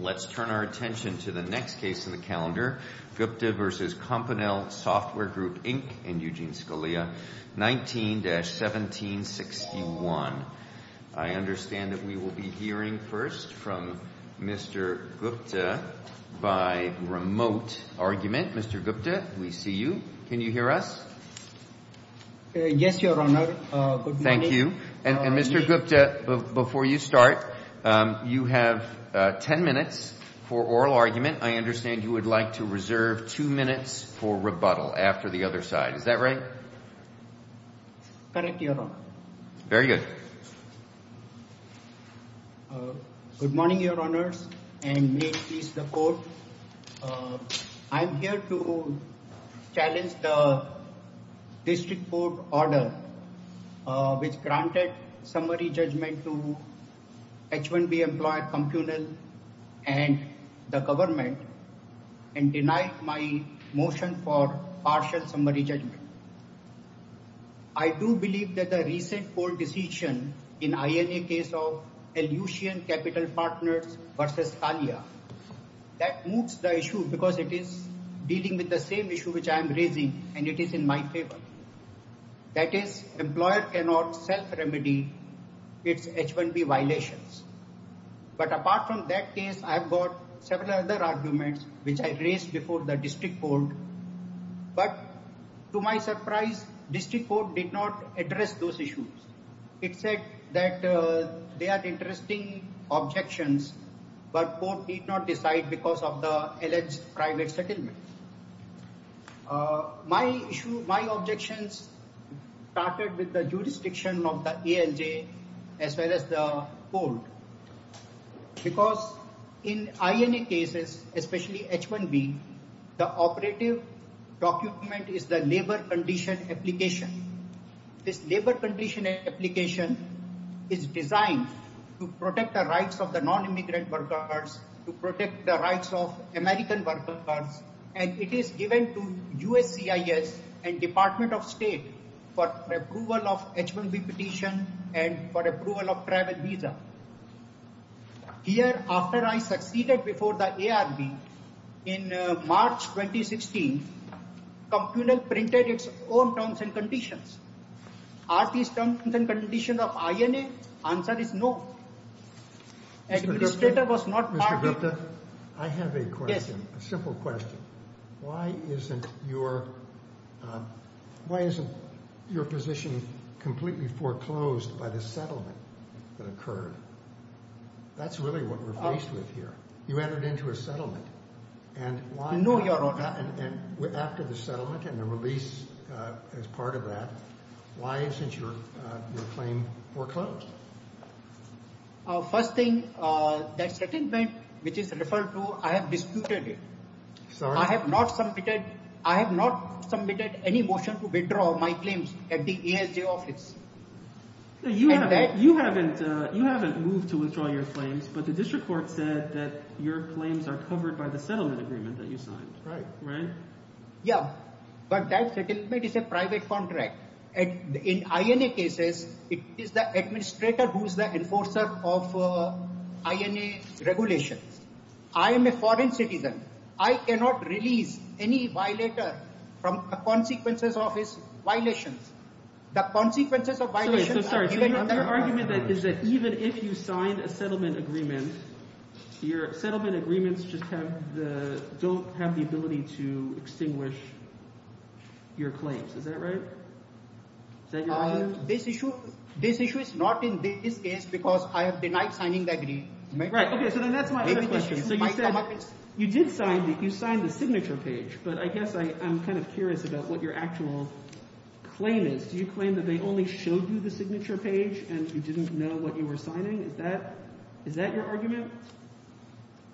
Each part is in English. Let's turn our attention to the next case in the calendar, Gupta v. Compunnel software Group, Inc. and Eugene Scalia, 19-1761. I understand that we will be hearing first from Mr. Gupta by remote argument. Mr. Gupta, we see you. Can you hear us? Mr. Gupta, before you start, you have 10 minutes for oral argument. I understand you would like to reserve two minutes for rebuttal after the other side. Is that right? Correct, Your Honor. Very good. Good morning, Your Honors and may it please the Court. I'm here to challenge the granted summary judgment to H-1B employer Compunnel and the government and denied my motion for partial summary judgment. I do believe that the recent court decision in INA case of Ellucian Capital Partners v. Scalia, that moves the issue because it is dealing with the same issue which I am raising and it is in my favor. That is, employer cannot self-remedy its H-1B violations. But apart from that case, I have got several other arguments which I raised before the district court. But to my surprise, district court did not address those issues. It said that they are interesting objections, but court need not decide because of the alleged private settlement. My issue, my objections started with the jurisdiction of the ANJ as well as the court. Because in INA cases, especially H-1B, the operative document is the labor condition application. This labor condition application is designed to protect the rights of the non-immigrant workers, to protect the rights of American workers and it is given to USCIS and Department of State for approval of H-1B petition and for approval of travel visa. Here, after I succeeded before the ARB in March 2016, Compunnel printed its own terms and conditions. Are these terms and conditions true? I have a question, a simple question. Why isn't your position completely foreclosed by the settlement that occurred? That is really what we are faced with here. You entered into a settlement and after the settlement and the release as part of that, why isn't your claim foreclosed? First thing, that settlement, which is referred to, I have disputed it. I have not submitted any motion to withdraw my claims at the ASJ office. You haven't moved to withdraw your claims, but the district court said that your claims are covered by the settlement agreement that you signed, right? Yeah, but that settlement is a private contract. In INA cases, it is the administrator who is the enforcer of INA regulations. I am a foreign citizen. I cannot release any violator from the consequences of his violations. The consequences of violations are given to the government. Your argument is that even if you sign a settlement agreement, your settlement agreements just don't have the ability to extinguish your claims. Is that right? This issue is not in this case because I have denied signing the agreement. Right, okay, so then that's my other question. You did sign the signature page, but I guess I'm kind of curious about what your actual claim is. Do you claim that they only showed you the settlement agreement?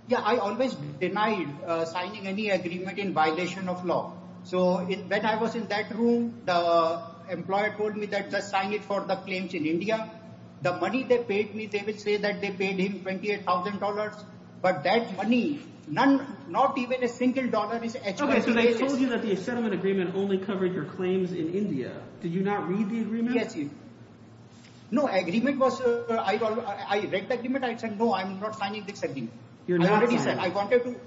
Yeah, I always denied signing any agreement in violation of law. So when I was in that room, the employer told me that just sign it for the claims in India. The money they paid me, they would say that they paid him $28,000, but that money, not even a single dollar is- Okay, so they told you that the settlement agreement only covered your claims in India. Did you not read the agreement? No, I read the agreement. I said, no, I'm not signing this agreement. You're not signing it?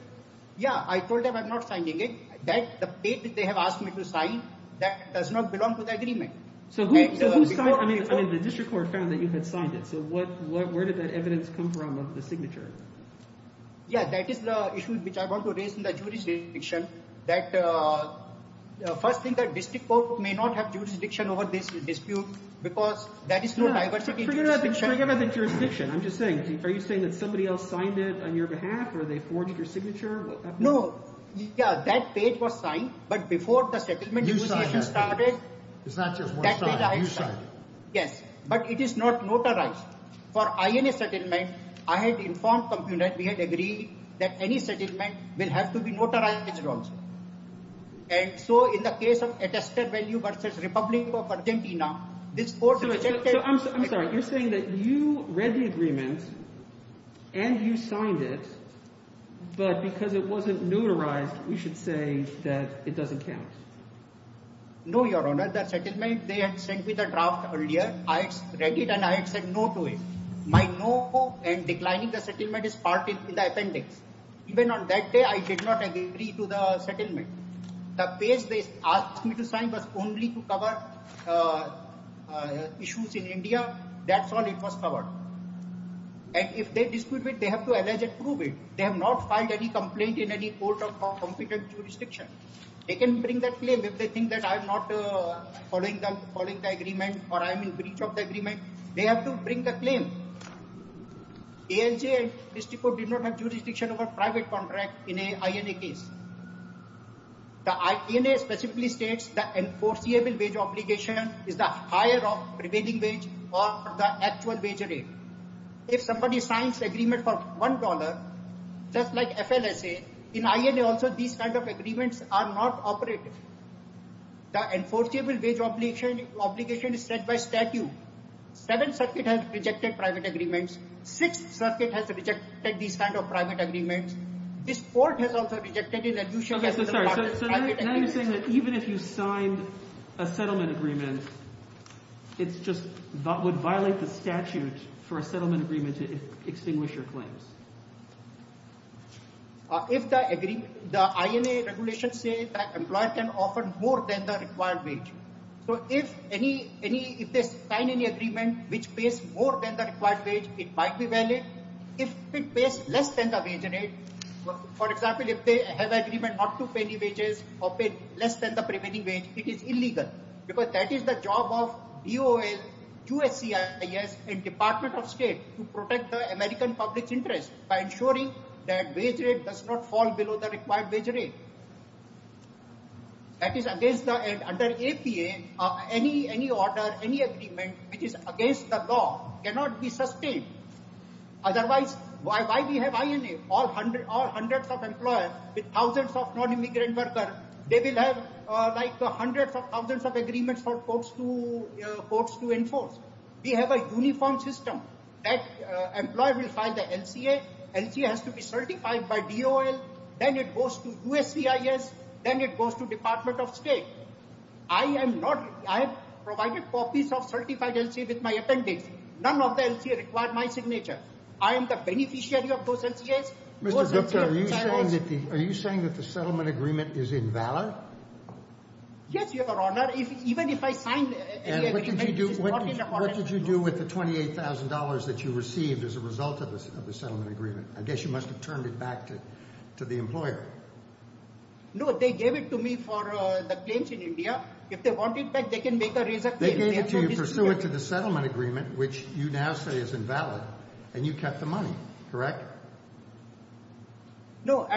Yeah, I told them I'm not signing it. The date that they have asked me to sign, that does not belong to the agreement. So who signed it? I mean, the district court found that you had signed it, so where did that evidence come from of the signature? Yeah, that is the issue which I want to raise in the jurisdiction. That first thing, the district court may not have jurisdiction over this dispute because there is no diversity in jurisdiction. Forget about the jurisdiction. I'm just saying, are you saying that somebody else signed it on your behalf or they forged your signature? No, yeah, that date was signed, but before the settlement negotiation started- You signed that date. It's not just one sign, you signed it. Yes, but it is not notarized. For INA settlement, I had informed the company that we had agreed that any settlement will have to be notarized as well. And so in the case of attested value versus Republic of Argentina, this court rejected- So I'm sorry, you're saying that you read the agreement and you signed it, but because it wasn't notarized, we should say that it doesn't count? No, Your Honor, the settlement, they had sent me the draft earlier. I read it and I had said no to it. My no and declining the settlement is part in the appendix. Even on that day, I did not agree to the settlement. The page they asked me to sign was only to cover issues in India. That's all it was covered. And if they dispute it, they have to allege and prove it. They have not filed any complaint in any court of competent jurisdiction. They can bring that claim if they think that I'm not following the agreement or I'm in breach of the agreement. They have to bring the claim. ALJ and this court did not have jurisdiction of a private contract in an INA case. The INA specifically states that the enforceable wage obligation is the higher of the remaining wage or the actual wage rate. If somebody signs an agreement for $1, just like FLSA, in INA also, these kinds of agreements are not operative. The enforceable wage obligation is set by statute. Seventh Circuit has rejected private agreements. Sixth Circuit has rejected these kinds of private agreements. This court has also rejected it. And you should have the right to private agreements. So now you're saying that even if you signed a settlement agreement, it's just that would violate the statute for a settlement agreement to extinguish your claims. If the INA regulations say that employer can offer more than the required wage. So if they sign any agreement which pays more than the required wage, it might be valid. If it pays less than the wage rate, for example, if they have an agreement not to pay any wages or pay less than the prevailing wage, it is illegal. Because that is the job of DOL, USCIS and Department of State to protect the American public's interest by ensuring that wage rate does not fall below the required wage rate. Under APA, any order, any agreement which is against the law cannot be sustained. Otherwise, why do we have INA? All hundreds of employers with thousands of non-immigrant workers, they will have like hundreds of thousands of agreements for courts to enforce. We have a uniform system that employer will file the LCA. LCA has to be certified by DOL. Then it goes to USCIS. Then it goes to Department of State. I am not. I have provided copies of certified LCA with my appendix. None of the LCA required my signature. I am the beneficiary of those LCA's. Mr. Gupta, are you saying that the settlement agreement is invalid? Yes, your honor. Even if I sign the agreement, it is not in accordance. What did you do with the $28,000 that you received as a result of the settlement agreement? I guess you must have turned it back to the employer. No, they gave it to me for the claims in India. If they want it back, they can make a result. They gave it to you pursuant to the settlement agreement, which you now say is invalid and you kept the money, correct? No,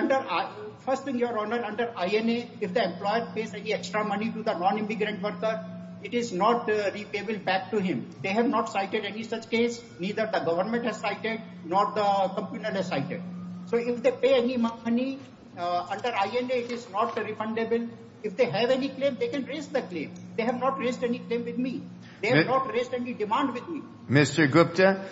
first thing, your honor, under INA, if the employer pays any extra money to the non-immigrant worker, it is not repayable back to him. They have not cited any such case. Neither the government has cited nor the company has cited. So if they pay any money, under INA, it is not refundable. If they have any claim, they can raise the claim. They have not raised any claim with me. They have not raised any demand with me. Mr. Gupta,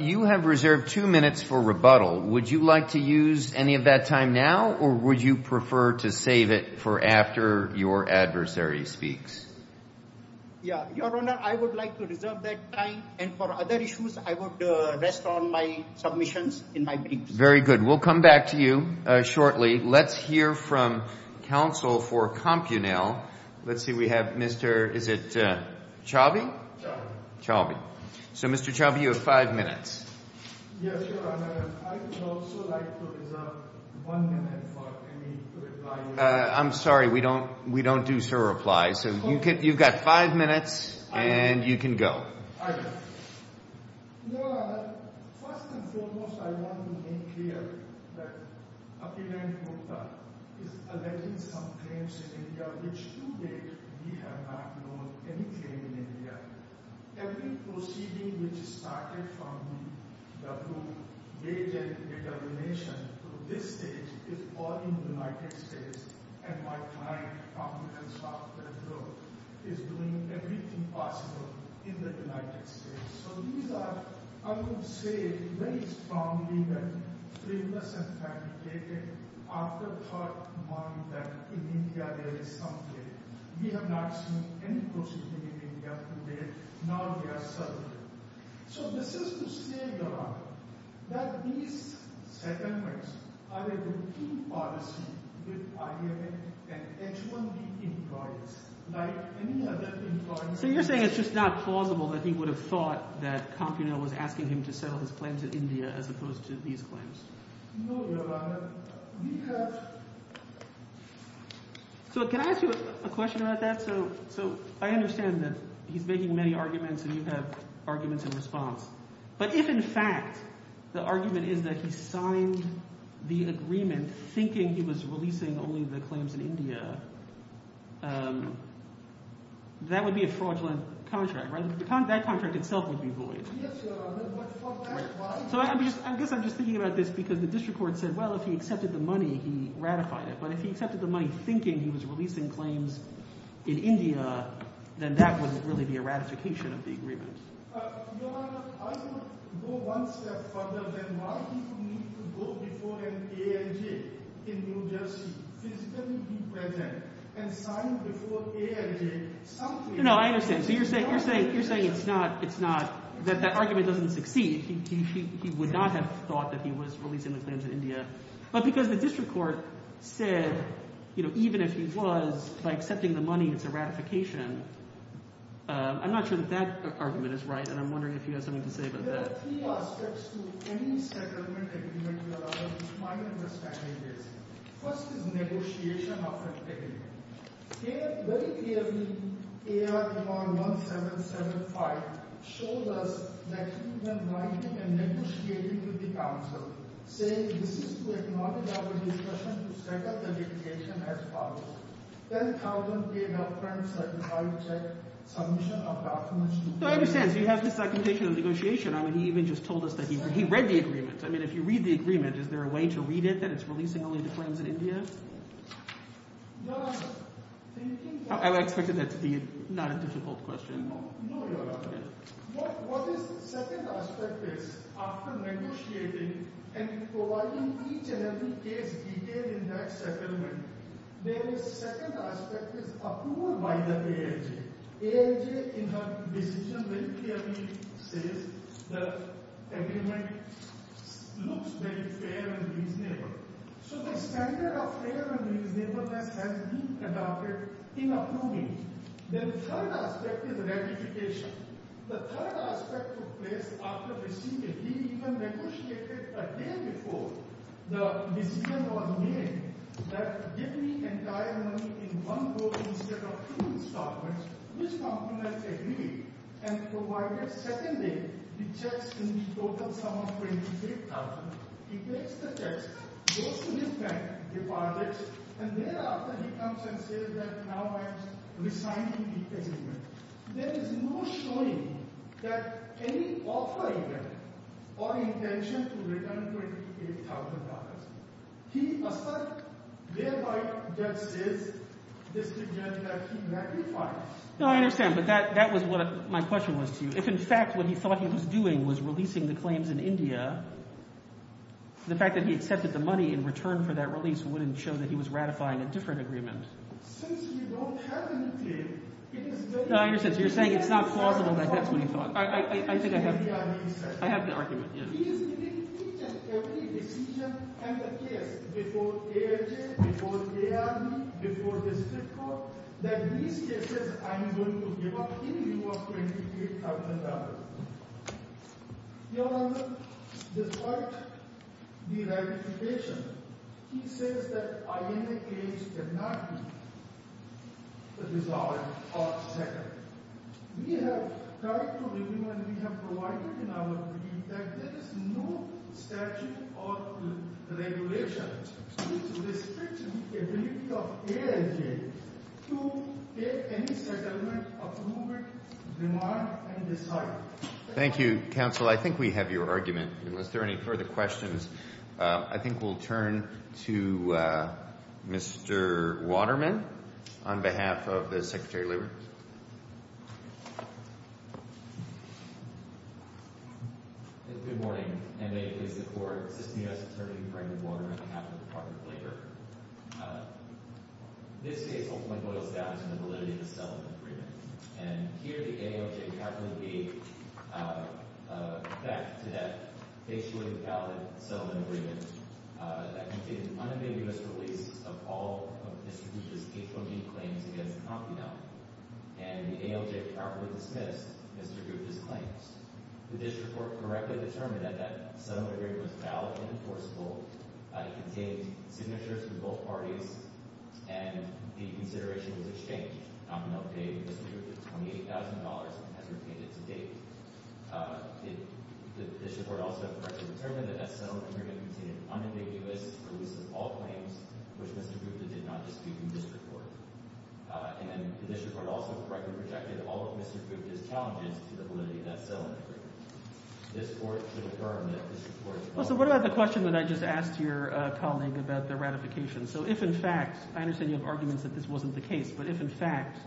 you have reserved two minutes for rebuttal. Would you like to use any of that time now or would you prefer to save it for after your adversary speaks? Yeah, your honor, I would like to reserve that time. And for other issues, I would rest on my submissions in my briefs. Very good. We'll come back to you shortly. Let's hear from counsel for Compunel. Let's see, we have Mr. is it Chaubey? Chaubey. So Mr. Chaubey, you have five minutes. Yes, your honor. I would also like to reserve one minute for any reply. I'm sorry, we don't do server replies. So you've got five minutes and you can go. Your honor, first and foremost, I want to make clear that Akira and Gupta is alleging some claims in India, which to date, we have not known any claim in India. Every proceeding which started from the group weighted determination to this stage is all in the United States. And my client, Competence Software Group, is doing everything possible in the United States. So these are, I would say, very strongly and frivolous and fabricated afterthought mind that in India there is something. We have not seen any proceeding in India to date. Now they are serving. So this is to say, your honor, that these settlements are a routine policy with IAM and H-1B employees like any other employees. So you're saying it's just not plausible that he would have thought that Compunil was asking him to settle his claims in India as opposed to these claims? No, your honor. So can I ask you a question about that? So I understand that he's making many arguments and you have arguments in response. But if in fact the argument is that he signed the agreement thinking he was releasing only the claims in India, that would be a fraudulent contract, right? That contract itself would be void. So I guess I'm just thinking about this because the district court said, well, if he accepted the money, he ratified it. But if he accepted the money thinking he was releasing claims in India, then that wouldn't really be a ratification of the agreement. Your honor, I would go one step further than why he would need to go before an ANJ in New Jersey, physically be present, and sign before ANJ something. No, I understand. So you're saying that argument doesn't succeed. He would not have thought that he was releasing the claims in India. But because the district court said, even if he was, by accepting the money, it's a ratification. I'm not sure that that argument is right. And I'm wondering if you have something to say about that. There are three aspects to any settlement agreement, Your Honor, which my understanding is. First is negotiation of the agreement. Very clearly, AR-1775 showed us that he went right in and negotiated with the council, saying this is to acknowledge our discretion to set up the litigation as follows. Then Carlton gave a premise that he would reject submission of the AR-1775. No, I understand. So you have this documentation of negotiation. I mean, he even just told us that he read the agreement. I mean, if you read the agreement, is there a way to read it that it's releasing only the claims in India? Your Honor, do you think that... I expected that to be not a difficult question. No, no, Your Honor. What is the second aspect is, after negotiating and providing each and every case detail in that settlement, then the second aspect is approval by the ALJ. ALJ, in her decision, very clearly says the agreement looks very fair and reasonable. So the standard of fair and reasonableness has been adopted in approving. The third aspect is ratification. The third aspect took place after receiving. He even negotiated a day before the decision was made that give me entire money in one go instead of two installments, which compliments the agreement, and provided second day rejects in the total sum of $28,000. He takes the checks, goes to his bank, deposits, and thereafter he comes and says that now I'm resigning the agreement. There is no showing that any offer event or intention to return $28,000. He asserts thereby against his decision that he ratifies. No, I understand. But that was what my question was to you. If, in fact, what he thought he was doing was releasing the claims in India, the fact that he accepted the money in return for that release wouldn't show that he was ratifying a different agreement. Since we don't have a new claim, it is very— No, I understand. So you're saying it's not plausible that that's what he thought. I think I have the argument, yes. He is making each and every decision and the case before AFJ, before ARB, before the Strip Court, that in these cases, I'm going to give up in view of $28,000. Your Honour, despite the ratification, he says that INAH cannot be dissolved or seconded. We have tried to review and we have provided in our brief that there is no statute or regulation which restricts the ability of ANJ to take any settlement, approval, demand, and decide. Thank you, Counsel. I think we have your argument. Unless there are any further questions, I think we'll turn to Mr. Waterman on behalf of the Secretary of Labor. Thank you, Your Honour. Good morning. I'm David Pizzicato, Assistant U.S. Attorney for Andrew Waterman on behalf of the Department of Labor. This case ultimately boils down to the validity of the settlement agreement. And here the ANJ happily would be back to that facially valid settlement agreement that contained an unambiguous release of all of Mr. Rupert's H-1B claims against Compnell. And the ALJ properly dismissed Mr. Rupert's claims. The district court correctly determined that that settlement agreement was valid and enforceable. It contained signatures from both parties and the consideration was exchanged. Compnell paid Mr. Rupert $28,000 and has retained it to date. The district court also correctly determined that that settlement agreement contained an unambiguous release of all claims which Mr. Rupert did not dispute in this report. And the district court also correctly projected all of Mr. Rupert's challenges to the validity of that settlement agreement. This court should affirm that this report is valid. Well, so what about the question that I just asked your colleague about the ratification? So if in fact, I understand you have arguments that this wasn't the case, but if in fact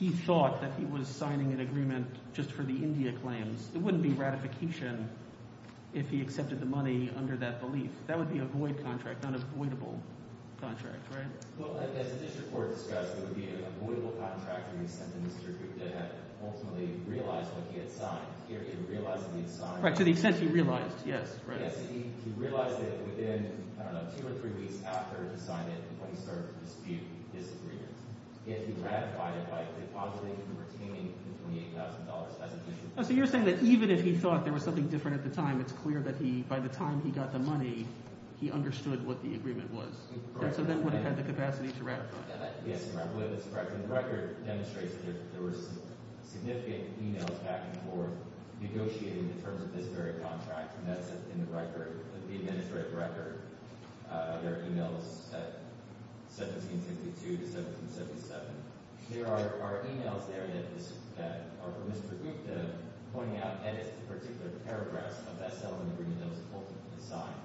he thought that he was signing an agreement just for the India claims, it wouldn't be ratification if he accepted the money under that belief. That would be a void contract, an avoidable contract, right? Well, as the district court discussed, it would be an avoidable contract in the sense that Mr. Rupert had ultimately realized what he had signed. He had realized what he had signed. Right, to the extent he realized. Yes, right. Yes, he realized that within, I don't know, two or three weeks after he had signed it and when he started to dispute his agreements. If he ratified it, by repositing and retaining the $28,000 as an issue. So you're saying that even if he thought there was something different at the time, it's clear that he, by the time he got the money, he understood what the agreement was. So then would have had the capacity to ratify. Yes, I believe that's correct. And the record demonstrates that there were significant emails back and forth negotiating in terms of this very contract. And that's in the record, the administrative record. There are emails at 1752 to 1777. There are emails there that are for Mr. Gupta pointing out edits to particular paragraphs of that settlement agreement that was ultimately signed.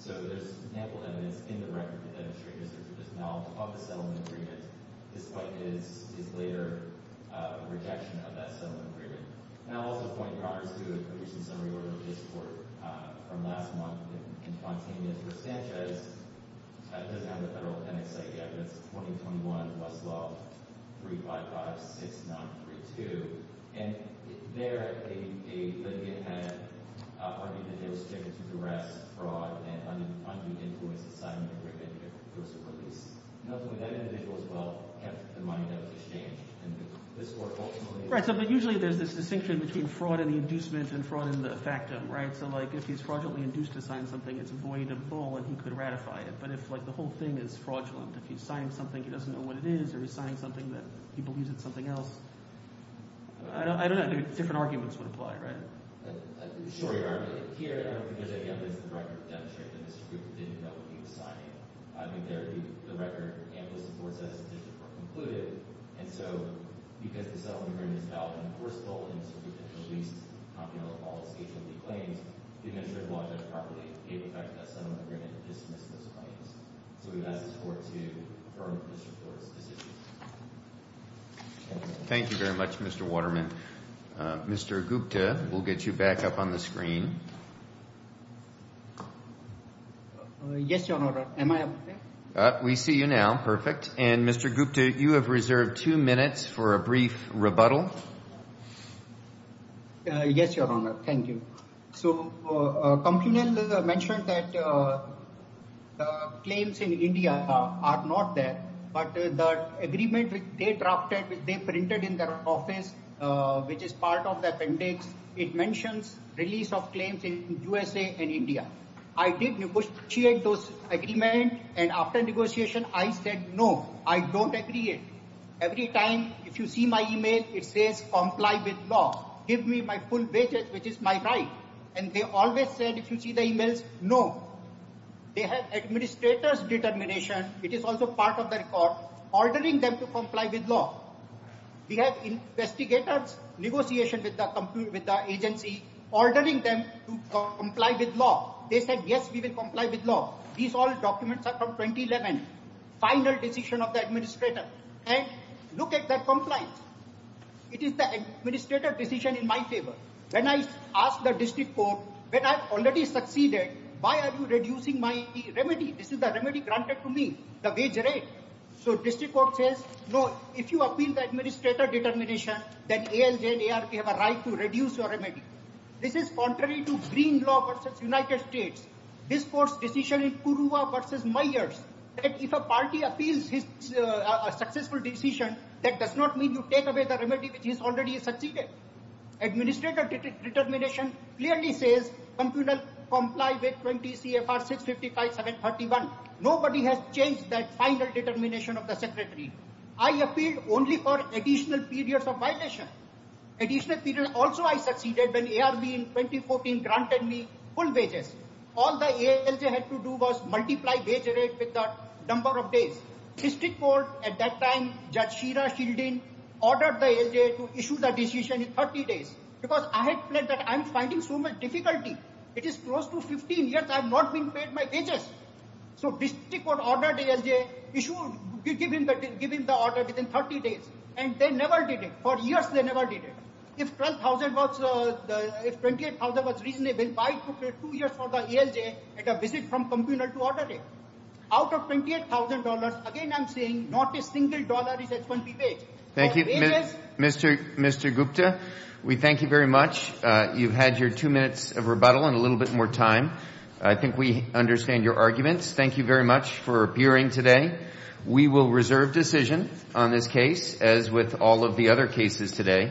So there's ample evidence in the record to demonstrate Mr. Gupta's knowledge of the settlement agreement, despite his later rejection of that settlement agreement. And I'll also point Congress to a recent summary order of this court from last month in Fontana for Sanchez. It doesn't have the federal appendix yet, but it's 2021 Westlaw 3556932. And there, a litigant had argued that he was subject to duress, fraud, and undue influence of the settlement agreement that he was supposed to release. Notably, that individual, as well, kept the money that was exchanged. And this court ultimately- Right, so but usually there's this distinction between fraud and the inducement and fraud in the factum, right? So like if he's fraudulently induced to sign something, it's void of all, and he could ratify it. But if like the whole thing is fraudulent, if he's signing something, he doesn't know what it is, or he's signing something that he believes it's something else. I don't know, different arguments would apply, right? Sure you are, but here, I don't think there's any evidence in the record to demonstrate that Mr. Gupta didn't know what he was signing. I think there would be- the record and the supports of that decision were concluded. And so because the settlement agreement is valid and enforceable, and Mr. Gupta had released confidential, false, hatred-free claims, it didn't ensure the law judge properly gave effect to that settlement agreement and dismissed those claims. So we've asked this court to confirm Mr. Gupta's decision. Thank you very much, Mr. Waterman. Mr. Gupta, we'll get you back up on the screen. Yes, Your Honor, am I up there? We see you now, perfect. And Mr. Gupta, you have reserved two minutes for a brief rebuttal. Yes, Your Honor, thank you. So a company mentioned that claims in India are not there, but the agreement they drafted, they printed in their office, which is part of the appendix. It mentions release of claims in USA and India. I did negotiate those agreements. And after negotiation, I said, no, I don't agree. Every time if you see my email, it says comply with law. Give me my full wages, which is my right. And they always said, if you see the emails, no. They have administrator's determination. It is also part of the record, ordering them to comply with law. We have investigators negotiation with the agency, ordering them to comply with law. They said, yes, we will comply with law. These all documents are from 2011, final decision of the administrator. And look at that compliance. It is the administrator decision in my favor. When I asked the district court, when I've already succeeded, why are you reducing my remedy? This is the remedy granted to me, the wage rate. So district court says, no, if you appeal the administrator determination, then ALJ and ARP have a right to reduce your remedy. This is contrary to green law versus United States. This court's decision in Kuruwa versus Myers, that if a party appeals his successful decision, that does not mean you take away the remedy, which is already succeeded. Administrator determination clearly says comply with 20 CFR 655 731. Nobody has changed that final determination of the secretary. I appealed only for additional periods of violation. Additional period also, I succeeded when ARB in 2014 granted me full wages. All the ALJ had to do was multiply wage rate with the number of days. District court at that time, Judge Sheera Sheldon ordered the ALJ to issue the decision in 30 days because I had planned that I'm finding so much difficulty. It is close to 15 years. I've not been paid my wages. So district court ordered ALJ issue, give him the order within 30 days. And they never did it. For years, they never did it. If 12,000 was, if 28,000 was reasonable, why took two years for the ALJ at a visit from communal to order it? Out of $28,000, again, I'm saying not a single dollar is expensive wage. Thank you, Mr. Gupta. We thank you very much. You've had your two minutes of rebuttal and a little bit more time. I think we understand your arguments. Thank you very much for appearing today. We will reserve decision on this case as with all of the other cases today.